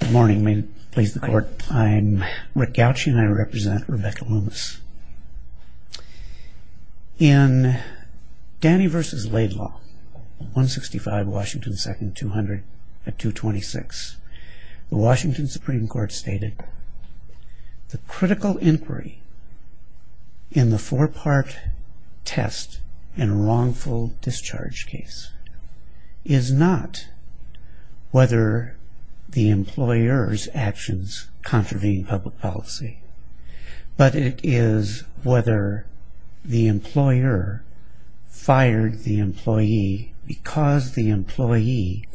Good morning, may it please the court. I'm Rick Gauch and I represent Rebecca Loomis. In Danny v. Laidlaw, 165 Washington 2nd, 200 at 226, the Washington Supreme Court stated, The critical inquiry in the four-part test in a wrongful discharge case is not whether the employer's actions contravene public policy, but it is whether the employer fired the employee because the employee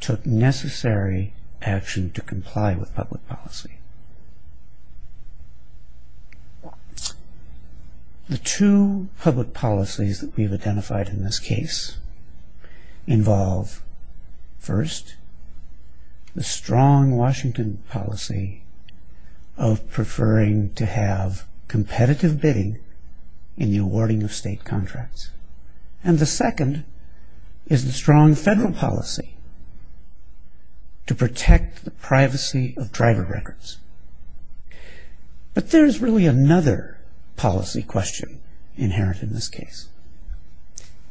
took necessary action to comply with public policy. The two public policies that we've identified in this case involve, first, the strong Washington policy of preferring to have competitive bidding in the awarding of state contracts. And the second is the strong federal policy to protect the privacy of driver records. But there's really another policy question inherent in this case,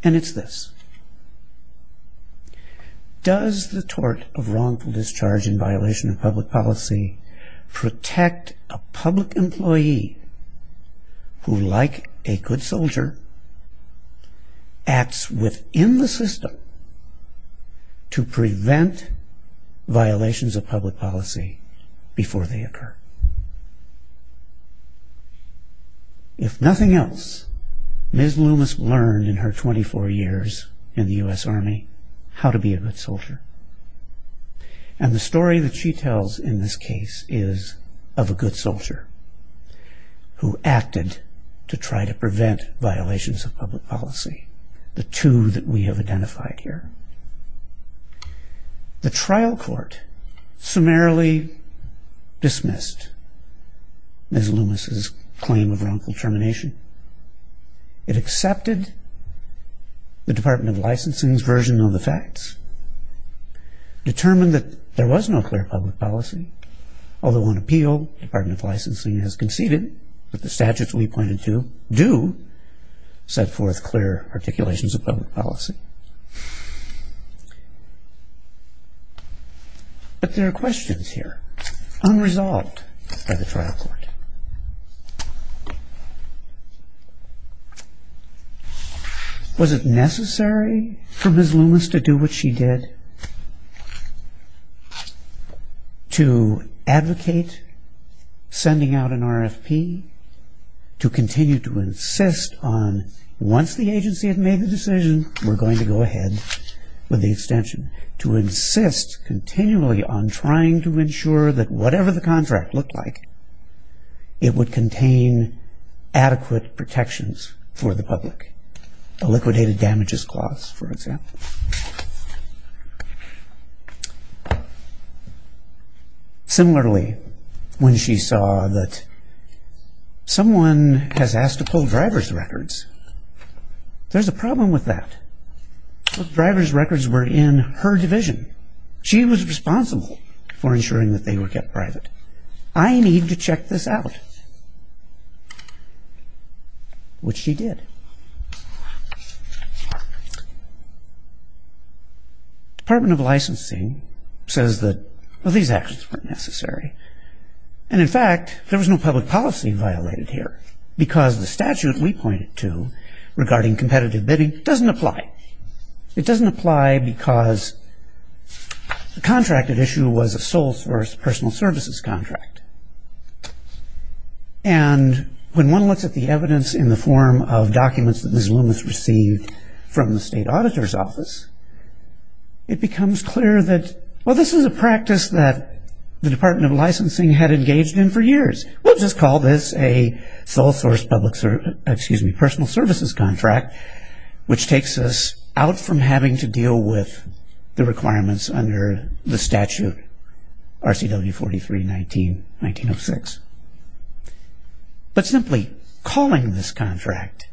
and it's this. Does the tort of wrongful discharge in violation of public policy protect a public employee who, like a good soldier, acts within the system to prevent violations of public policy before they occur? If nothing else, Ms. Loomis learned in her 24 years in the U.S. Army how to be a good soldier. And the story that she tells in this case is of a good soldier who acted to try to prevent violations of public policy, the two that we have identified here. The trial court summarily dismissed Ms. Loomis' claim of wrongful termination. It accepted the Department of Licensing's version of the facts, determined that there was no clear public policy. Although on appeal, the Department of Licensing has conceded that the statutes we pointed to do set forth clear articulations of public policy. But there are questions here unresolved by the trial court. Was it necessary for Ms. Loomis to do what she did to advocate sending out an RFP, to continue to insist on, once the agency had made the decision, we're going to go ahead with the extension? To insist continually on trying to ensure that whatever the contract looked like, it would contain adequate protections for the public. A liquidated damages clause, for example. Similarly, when she saw that someone has asked to pull driver's records, there's a problem with that. The driver's records were in her division. She was responsible for ensuring that they were kept private. I need to check this out. Which she did. Department of Licensing says that, well, these actions weren't necessary. And in fact, there was no public policy violated here. Because the statute we pointed to, regarding competitive bidding, doesn't apply. It doesn't apply because the contracted issue was a sole source personal services contract. And when one looks at the evidence in the form of documents that Ms. Loomis received from the state auditor's office, it becomes clear that, well, this is a practice that the Department of Licensing had engaged in for years. We'll just call this a sole source personal services contract, which takes us out from having to deal with the requirements under the statute, RCW 43-19-1906. But simply calling this contract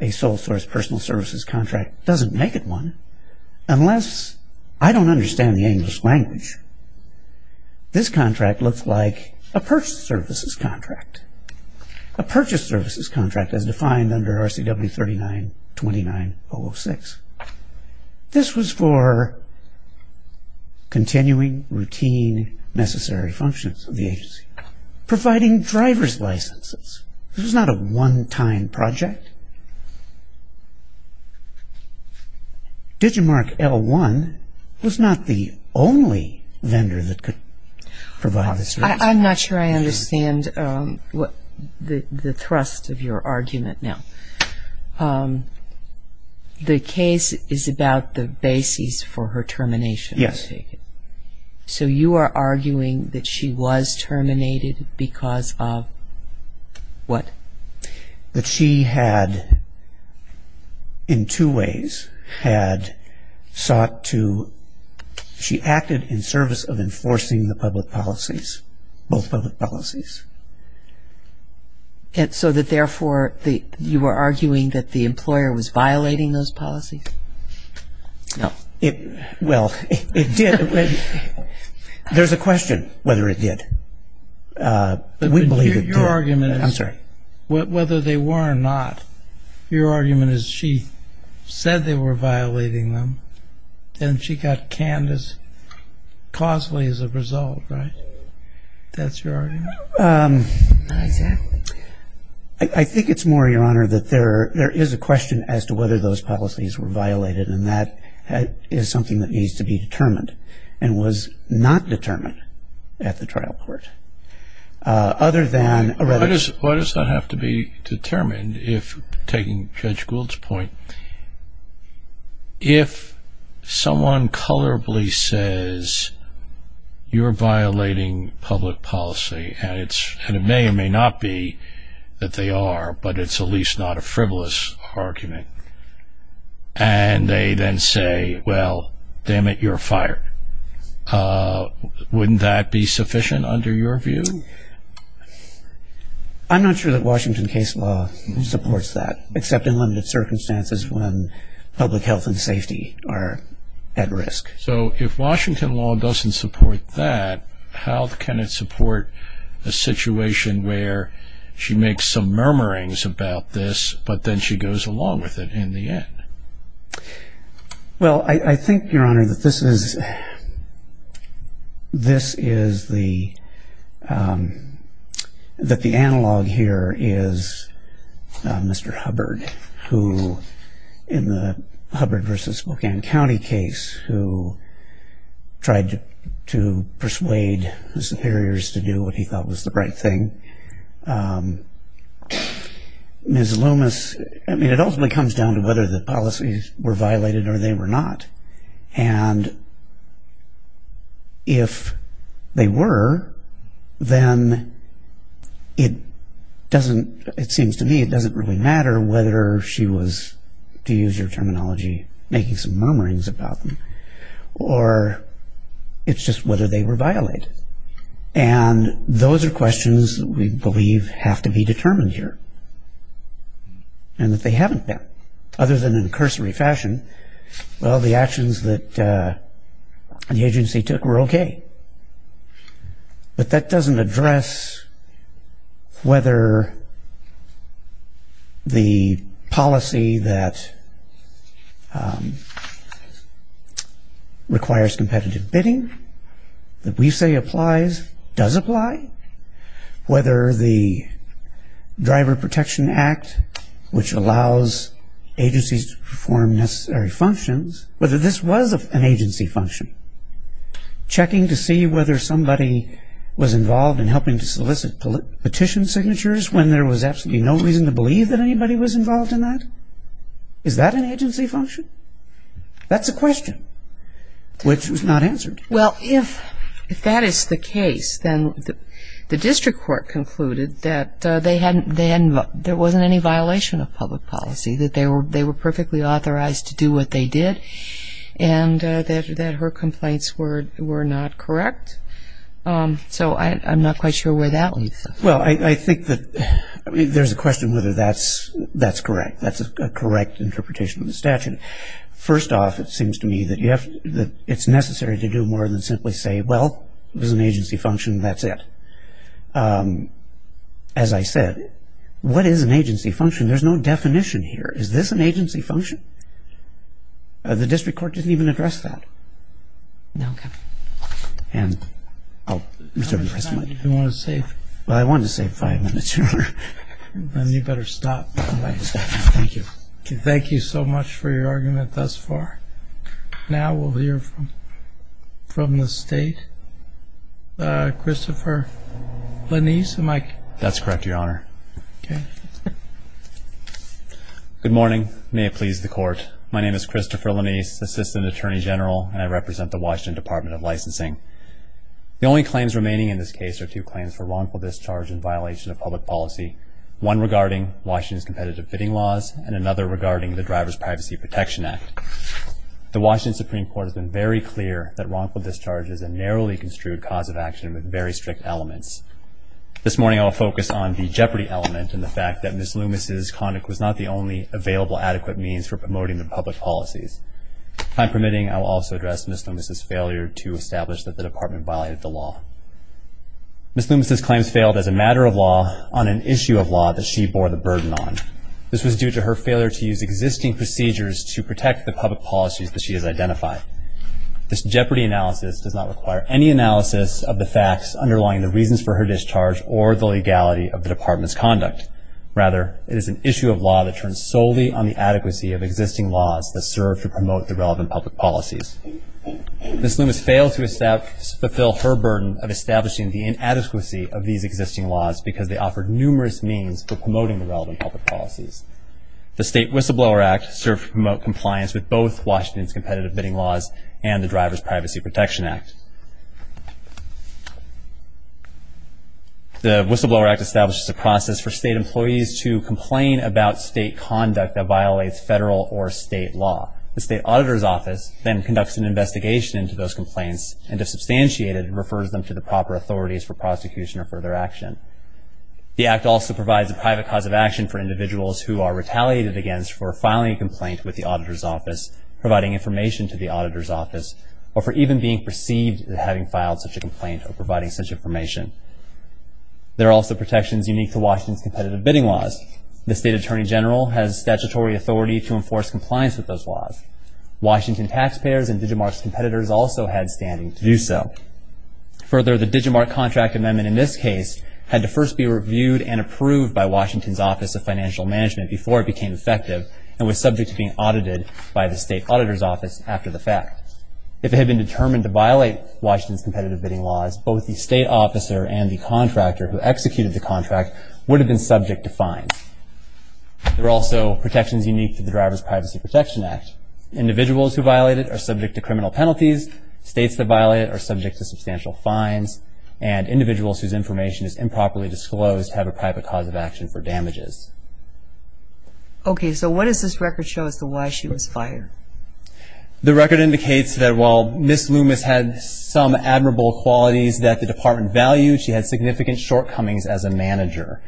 a sole source personal services contract doesn't make it one. Unless I don't understand the English language, this contract looks like a purchase services contract. A purchase services contract as defined under RCW 39-29-006. This was for continuing routine necessary functions of the agency. Providing driver's licenses. This was not a one-time project. DigiMark L1 was not the only vendor that could provide this service. I'm not sure I understand the thrust of your argument now. The case is about the basis for her termination, I take it. Yes. So you are arguing that she was terminated because of what? That she had, in two ways, had sought to, she acted in service of enforcing the public policies, both public policies. So that, therefore, you are arguing that the employer was violating those policies? No. Well, it did. There's a question whether it did. We believe it did. I'm sorry. Whether they were or not, your argument is she said they were violating them and she got canned as causally as a result, right? That's your argument? Not exactly. I think it's more, Your Honor, that there is a question as to whether those policies were violated and that is something that needs to be determined and was not determined at the trial court. Why does that have to be determined if, taking Judge Gould's point, if someone colorably says you're violating public policy and it may or may not be that they are, but it's at least not a frivolous argument and they then say, well, damn it, you're fired. Wouldn't that be sufficient under your view? I'm not sure that Washington case law supports that, except in limited circumstances when public health and safety are at risk. So if Washington law doesn't support that, how can it support a situation where she makes some murmurings about this but then she goes along with it in the end? Well, I think, Your Honor, that this is the analog here is Mr. Hubbard, who in the Hubbard v. Spokane County case, who tried to persuade his superiors to do what he thought was the right thing. And Ms. Loomis, I mean, it ultimately comes down to whether the policies were violated or they were not. And if they were, then it doesn't, it seems to me, it doesn't really matter whether she was, to use your terminology, making some murmurings about them or it's just whether they were violated. And those are questions that we believe have to be determined here and that they haven't been. Other than in cursory fashion, well, the actions that the agency took were okay. But that doesn't address whether the policy that requires competitive bidding, that we say applies, does apply. Whether the Driver Protection Act, which allows agencies to perform necessary functions, whether this was an agency function, checking to see whether somebody was involved in helping to solicit petition signatures when there was absolutely no reason to believe that anybody was involved in that, is that an agency function? That's a question which was not answered. Well, if that is the case, then the district court concluded that there wasn't any violation of public policy, that they were perfectly authorized to do what they did and that her complaints were not correct. So I'm not quite sure where that leads us. Well, I think that there's a question whether that's correct. That's a correct interpretation of the statute. First off, it seems to me that it's necessary to do more than simply say, well, it was an agency function, that's it. As I said, what is an agency function? There's no definition here. Is this an agency function? The district court didn't even address that. And I'll reserve the rest of my time. How much time do you want to save? Well, I wanted to save five minutes more. Then you better stop. I better stop. Thank you. Thank you so much for your argument thus far. Now we'll hear from the State. Christopher Lanise, am I correct? That's correct, Your Honor. Okay. Good morning. May it please the Court. My name is Christopher Lanise, Assistant Attorney General, and I represent the Washington Department of Licensing. The only claims remaining in this case are two claims for wrongful discharge and violation of public policy, one regarding Washington's competitive bidding laws and another regarding the Driver's Privacy Protection Act. The Washington Supreme Court has been very clear that wrongful discharge is a narrowly construed cause of action with very strict elements. This morning I will focus on the jeopardy element and the fact that Ms. Loomis' conduct was not the only available adequate means for promoting the public policies. If I'm permitting, I will also address Ms. Loomis' failure to establish that the Department violated the law. Ms. Loomis' claims failed as a matter of law on an issue of law that she bore the burden on. This was due to her failure to use existing procedures to protect the public policies that she has identified. This jeopardy analysis does not require any analysis of the facts underlying the reasons for her discharge or the legality of the Department's conduct. Rather, it is an issue of law that turns solely on the adequacy of existing laws that serve to promote the relevant public policies. Ms. Loomis failed to fulfill her burden of establishing the inadequacy of these existing laws because they offer numerous means for promoting the relevant public policies. The State Whistleblower Act served to promote compliance with both Washington's competitive bidding laws and the Driver's Privacy Protection Act. The Whistleblower Act establishes a process for state employees to complain about state conduct that violates federal or state law. The State Auditor's Office then conducts an investigation into those complaints and, if substantiated, refers them to the proper authorities for prosecution or further action. The Act also provides a private cause of action for individuals who are retaliated against for filing a complaint with the Auditor's Office, providing information to the Auditor's Office, or for even being perceived as having filed such a complaint or providing such information. There are also protections unique to Washington's competitive bidding laws. The State Attorney General has statutory authority to enforce compliance with those laws. Washington taxpayers and DigiMark's competitors also had standing to do so. Further, the DigiMark contract amendment in this case had to first be reviewed and approved by Washington's Office of Financial Management before it became effective and was subject to being audited by the State Auditor's Office after the fact. If it had been determined to violate Washington's competitive bidding laws, both the state officer and the contractor who executed the contract would have been subject to fines. There are also protections unique to the Driver's Privacy Protection Act. Individuals who violate it are subject to criminal penalties, states that violate it are subject to substantial fines, and individuals whose information is improperly disclosed have a private cause of action for damages. Okay, so what does this record show as to why she was fired? The record indicates that while Ms. Loomis had some admirable qualities that the department valued, she had significant shortcomings as a manager.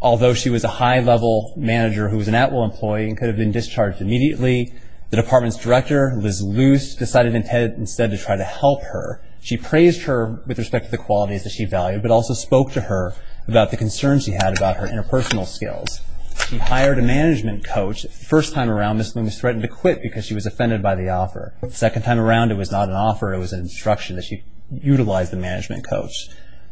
Although she was a high-level manager who was an at-will employee and could have been discharged immediately, the department's director, Liz Luce, decided instead to try to help her. She praised her with respect to the qualities that she valued, but also spoke to her about the concerns she had about her interpersonal skills. She hired a management coach. The first time around, Ms. Loomis threatened to quit because she was offended by the offer. The second time around, it was not an offer. It was an instruction that she utilize the management coach.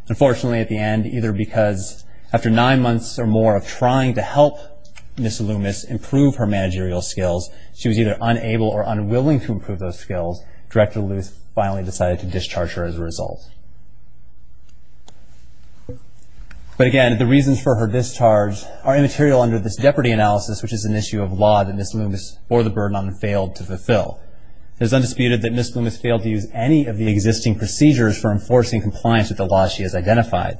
Unfortunately, at the end, either because after nine months or more of trying to help Ms. Loomis improve her managerial skills, she was either unable or unwilling to improve those skills. Director Luce finally decided to discharge her as a result. But again, the reasons for her discharge are immaterial under this jeopardy analysis, which is an issue of law that Ms. Loomis bore the burden on and failed to fulfill. It is undisputed that Ms. Loomis failed to use any of the existing procedures for enforcing compliance with the laws she has identified.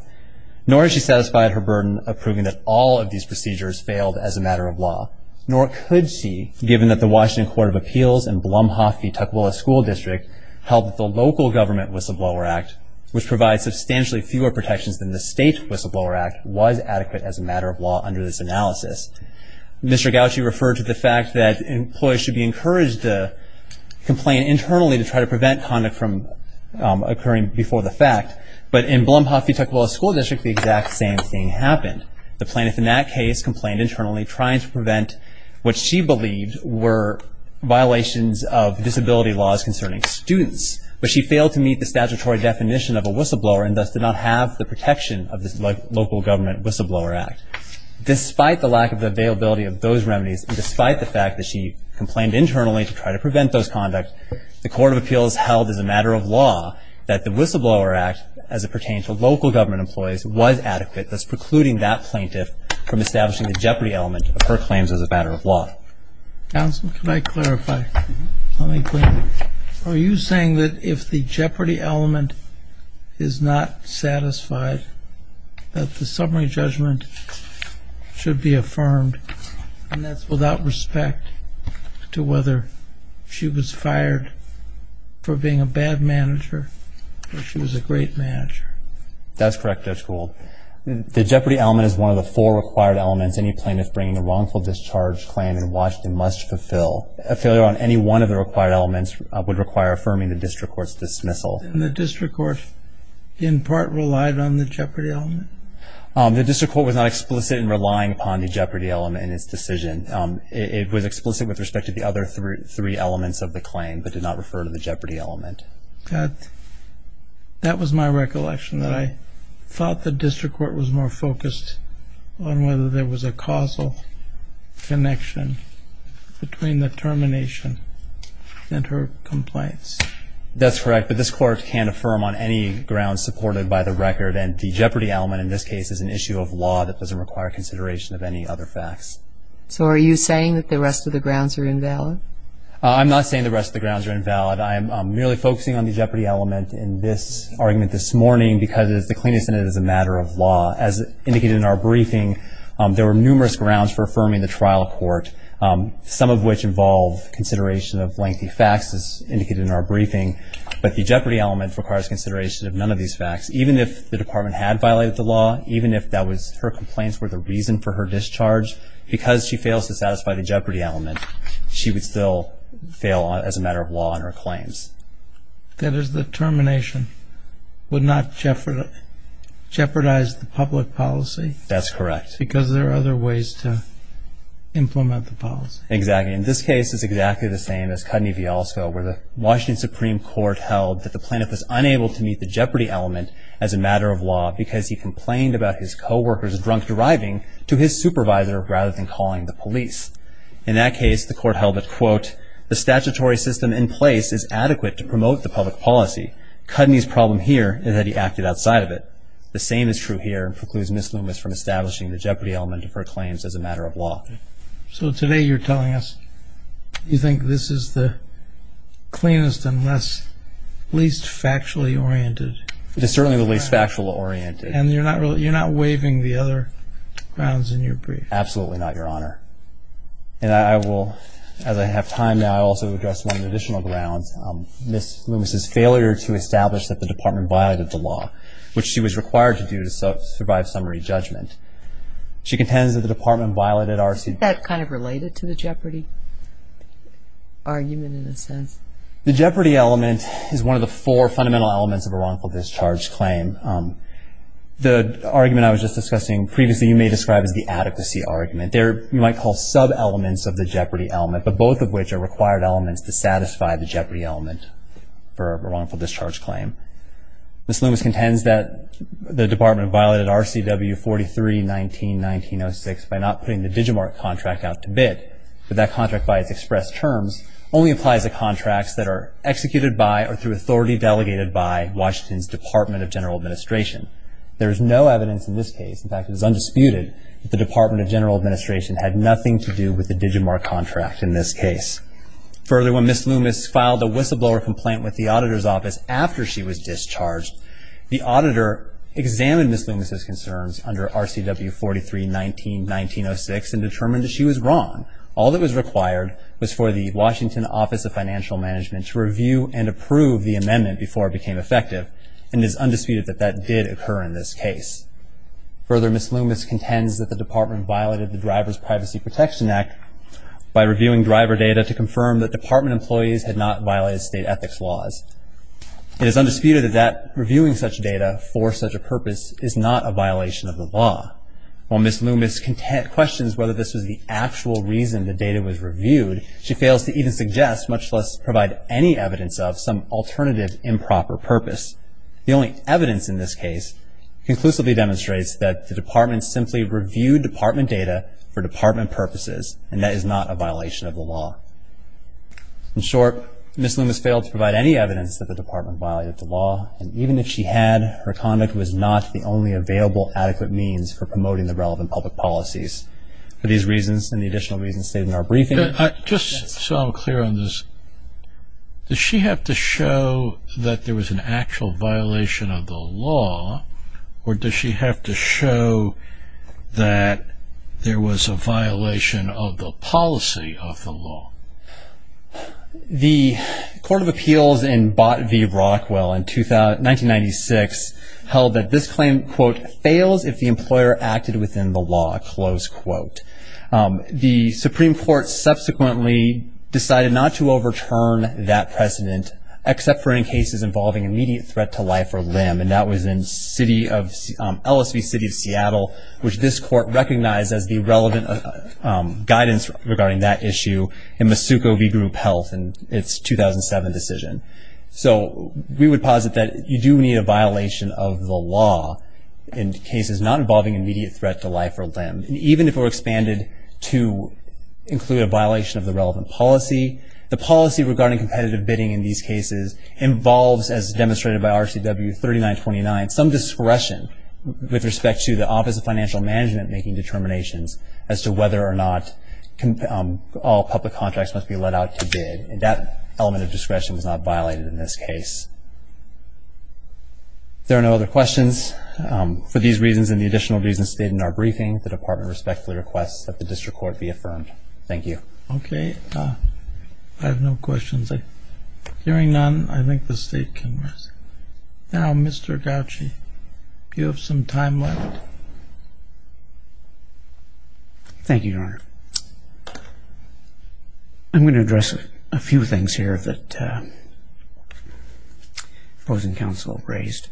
Nor has she satisfied her burden of proving that all of these procedures failed as a matter of law. Nor could she, given that the Washington Court of Appeals and Blumhoff v. Tukwila School District held that the local government whistleblower act, which provides substantially fewer protections than the state whistleblower act, was adequate as a matter of law under this analysis. Mr. Gauci referred to the fact that employees should be encouraged to complain internally to try to prevent conduct from occurring before the fact. But in Blumhoff v. Tukwila School District, the exact same thing happened. The plaintiff in that case complained internally, trying to prevent what she believed were violations of disability laws concerning students. But she failed to meet the statutory definition of a whistleblower and thus did not have the protection of this local government whistleblower act. Despite the lack of the availability of those remedies, and despite the fact that she complained internally to try to prevent those conducts, the Court of Appeals held as a matter of law that the whistleblower act, as it pertained to local government employees, was adequate, thus precluding that plaintiff from establishing the jeopardy element of her claims as a matter of law. Counsel, can I clarify? Are you saying that if the jeopardy element is not satisfied, that the summary judgment should be affirmed, and that's without respect to whether she was fired for being a bad manager or she was a great manager? That's correct, Judge Gould. The jeopardy element is one of the four required elements any plaintiff bringing a wrongful discharge claim in Washington must fulfill. A failure on any one of the required elements would require affirming the district court's dismissal. And the district court, in part, relied on the jeopardy element? The district court was not explicit in relying upon the jeopardy element in its decision. It was explicit with respect to the other three elements of the claim, but did not refer to the jeopardy element. That was my recollection, that I thought the district court was more focused on whether there was a causal connection between the termination and her complaints. That's correct, but this court can't affirm on any grounds supported by the record, and the jeopardy element in this case is an issue of law that doesn't require consideration of any other facts. So are you saying that the rest of the grounds are invalid? I'm not saying the rest of the grounds are invalid. I am merely focusing on the jeopardy element in this argument this morning because it is the cleanest in it as a matter of law. As indicated in our briefing, there were numerous grounds for affirming the trial court, some of which involve consideration of lengthy facts, as indicated in our briefing. But the jeopardy element requires consideration of none of these facts. Even if the department had violated the law, even if her complaints were the reason for her discharge, because she fails to satisfy the jeopardy element, she would still fail as a matter of law in her claims. That is, the termination would not jeopardize the public policy? That's correct. Because there are other ways to implement the policy. Exactly. And this case is exactly the same as Cudney v. Alsko, where the Washington Supreme Court held that the plaintiff was unable to meet the jeopardy element as a matter of law because he complained about his co-workers drunk driving to his supervisor rather than calling the police. In that case, the court held that, quote, the statutory system in place is adequate to promote the public policy. Cudney's problem here is that he acted outside of it. The same is true here, precludes Ms. Loomis from establishing the jeopardy element of her claims as a matter of law. So today you're telling us you think this is the cleanest and least factually oriented? It is certainly the least factually oriented. And you're not waiving the other grounds in your brief? Absolutely not, Your Honor. And I will, as I have time now, also address one of the additional grounds, Ms. Loomis's failure to establish that the Department violated the law, which she was required to do to survive summary judgment. She contends that the Department violated RC. Is that kind of related to the jeopardy argument in a sense? The jeopardy element is one of the four fundamental elements of a wrongful discharge claim. The argument I was just discussing previously you may describe as the adequacy argument. They're what you might call sub-elements of the jeopardy element, but both of which are required elements to satisfy the jeopardy element for a wrongful discharge claim. Ms. Loomis contends that the Department violated RCW 43-19-1906 by not putting the Digimart contract out to bid, but that contract by its express terms only applies to contracts that are executed by or through authority delegated by Washington's Department of General Administration. There is no evidence in this case, in fact it is undisputed, that the Department of General Administration had nothing to do with the Digimart contract in this case. Further, when Ms. Loomis filed a whistleblower complaint with the auditor's office after she was discharged, the auditor examined Ms. Loomis's concerns under RCW 43-19-1906 and determined that she was wrong. All that was required was for the Washington Office of Financial Management to review and approve the amendment before it became effective, and it is undisputed that that did occur in this case. Further, Ms. Loomis contends that the Department violated the Driver's Privacy Protection Act by reviewing driver data to confirm that Department employees had not violated state ethics laws. It is undisputed that reviewing such data for such a purpose is not a violation of the law. While Ms. Loomis questions whether this was the actual reason the data was reviewed, she fails to even suggest, much less provide any evidence of, some alternative improper purpose. The only evidence in this case conclusively demonstrates that the Department simply reviewed Department data for Department purposes, and that is not a violation of the law. In short, Ms. Loomis failed to provide any evidence that the Department violated the law, and even if she had, her conduct was not the only available adequate means for promoting the relevant public policies. For these reasons, and the additional reasons stated in our briefing... Just so I'm clear on this, does she have to show that there was an actual violation of the law, or does she have to show that there was a violation of the policy of the law? The Court of Appeals in Bott v. Rockwell in 1996 held that this claim, quote, fails if the employer acted within the law, close quote. The Supreme Court subsequently decided not to overturn that precedent, except for in cases involving immediate threat to life or limb, which this Court recognized as the relevant guidance regarding that issue in Masuko v. Group Health in its 2007 decision. So we would posit that you do need a violation of the law in cases not involving immediate threat to life or limb. And even if it were expanded to include a violation of the relevant policy, the policy regarding competitive bidding in these cases involves, as demonstrated by RCW 3929, some discretion with respect to the Office of Financial Management making determinations as to whether or not all public contracts must be let out to bid. And that element of discretion was not violated in this case. If there are no other questions, for these reasons and the additional reasons stated in our briefing, the Department respectfully requests that the District Court be affirmed. Thank you. Okay. I have no questions. Hearing none, I think the State can rest. Now, Mr. Gauci, do you have some time left? Thank you, Your Honor. I'm going to address a few things here that opposing counsel raised.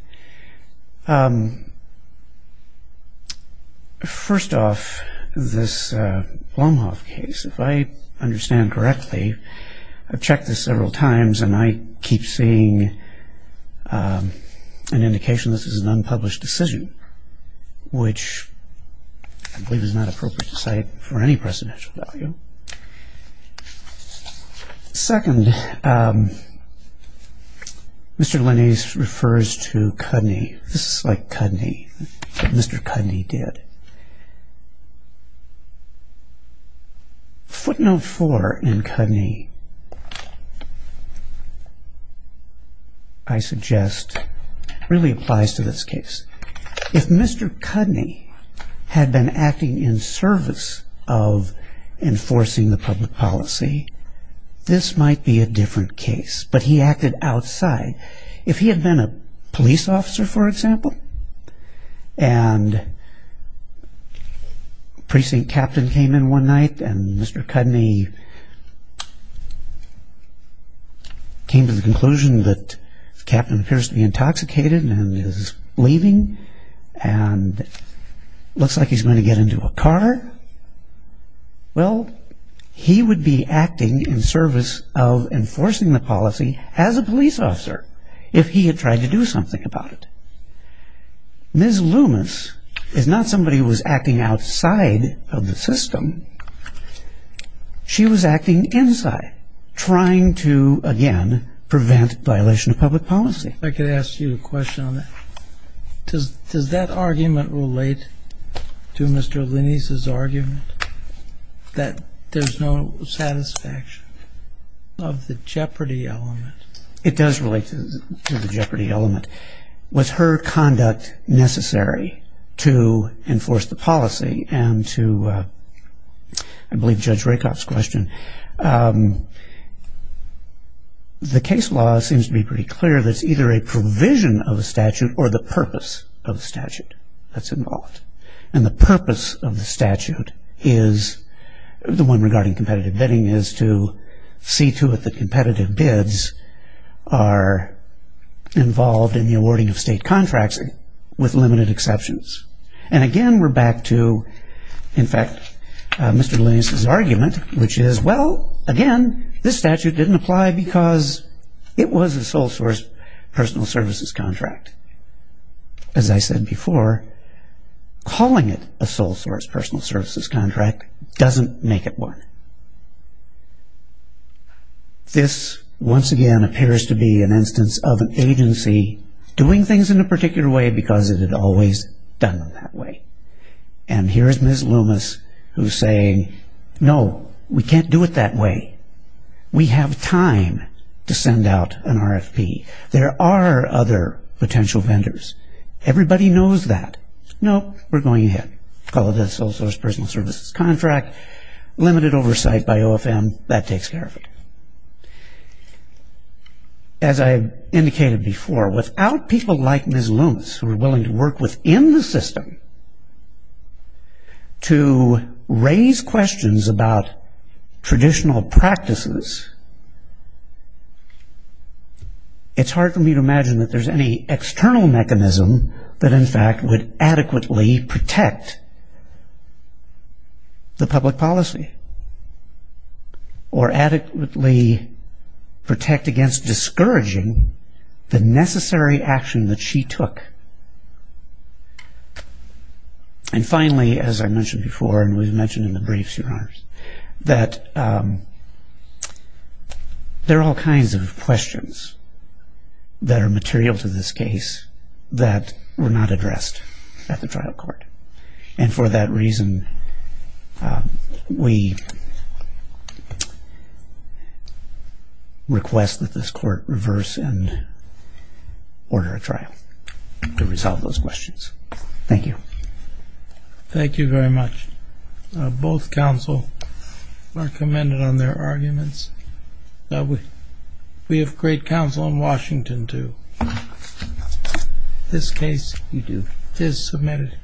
First off, this Blomhoff case, if I understand correctly, I've checked this several times and I keep seeing an indication this is an unpublished decision, which I believe is not appropriate to cite for any precedential value. Second, Mr. Linnies refers to Cudney. This is like Cudney, but Mr. Cudney did. Footnote four in Cudney, I suggest, really applies to this case. If Mr. Cudney had been acting in service of enforcing the public policy, this might be a different case, but he acted outside. If he had been a police officer, for example, and precinct captain came in one night and Mr. Cudney came to the conclusion that the captain appears to be intoxicated and is leaving and looks like he's going to get into a car, well, he would be acting in service of enforcing the policy as a police officer if he had tried to do something about it. Ms. Loomis is not somebody who was acting outside of the system. She was acting inside, trying to, again, prevent violation of public policy. If I could ask you a question on that. Does that argument relate to Mr. Linnies' argument that there's no satisfaction of the jeopardy element? It does relate to the jeopardy element. Was her conduct necessary to enforce the policy and to, I believe Judge Rakoff's question, the case law seems to be pretty clear that it's either a provision of a statute or the purpose of a statute that's involved. And the purpose of the statute is, the one regarding competitive bidding is to see to it that competitive bids are involved in the awarding of state contracts with limited exceptions. And again, we're back to, in fact, Mr. Linnies' argument, which is, well, again, this statute didn't apply because it was a sole source personal services contract. As I said before, calling it a sole source personal services contract doesn't make it work. This, once again, appears to be an instance of an agency doing things in a particular way because it had always done them that way. And here's Ms. Loomis who's saying, no, we can't do it that way. We have time to send out an RFP. There are other potential vendors. Everybody knows that. No, we're going ahead. Call it a sole source personal services contract. Limited oversight by OFM. That takes care of it. As I indicated before, without people like Ms. Loomis who are willing to work within the system to raise questions about traditional practices, it's hard for me to imagine that there's any external mechanism that in fact would adequately protect the public policy or adequately protect against discouraging the necessary action that she took. And finally, as I mentioned before, and we've mentioned in the briefs, Your Honors, that there are all kinds of questions that are material to this case that were not addressed at the trial court. And for that reason, we request that this court reverse and order a trial to resolve those questions. Thank you. Thank you very much. Both counsel are commended on their arguments. We have great counsel in Washington, too. This case is submitted.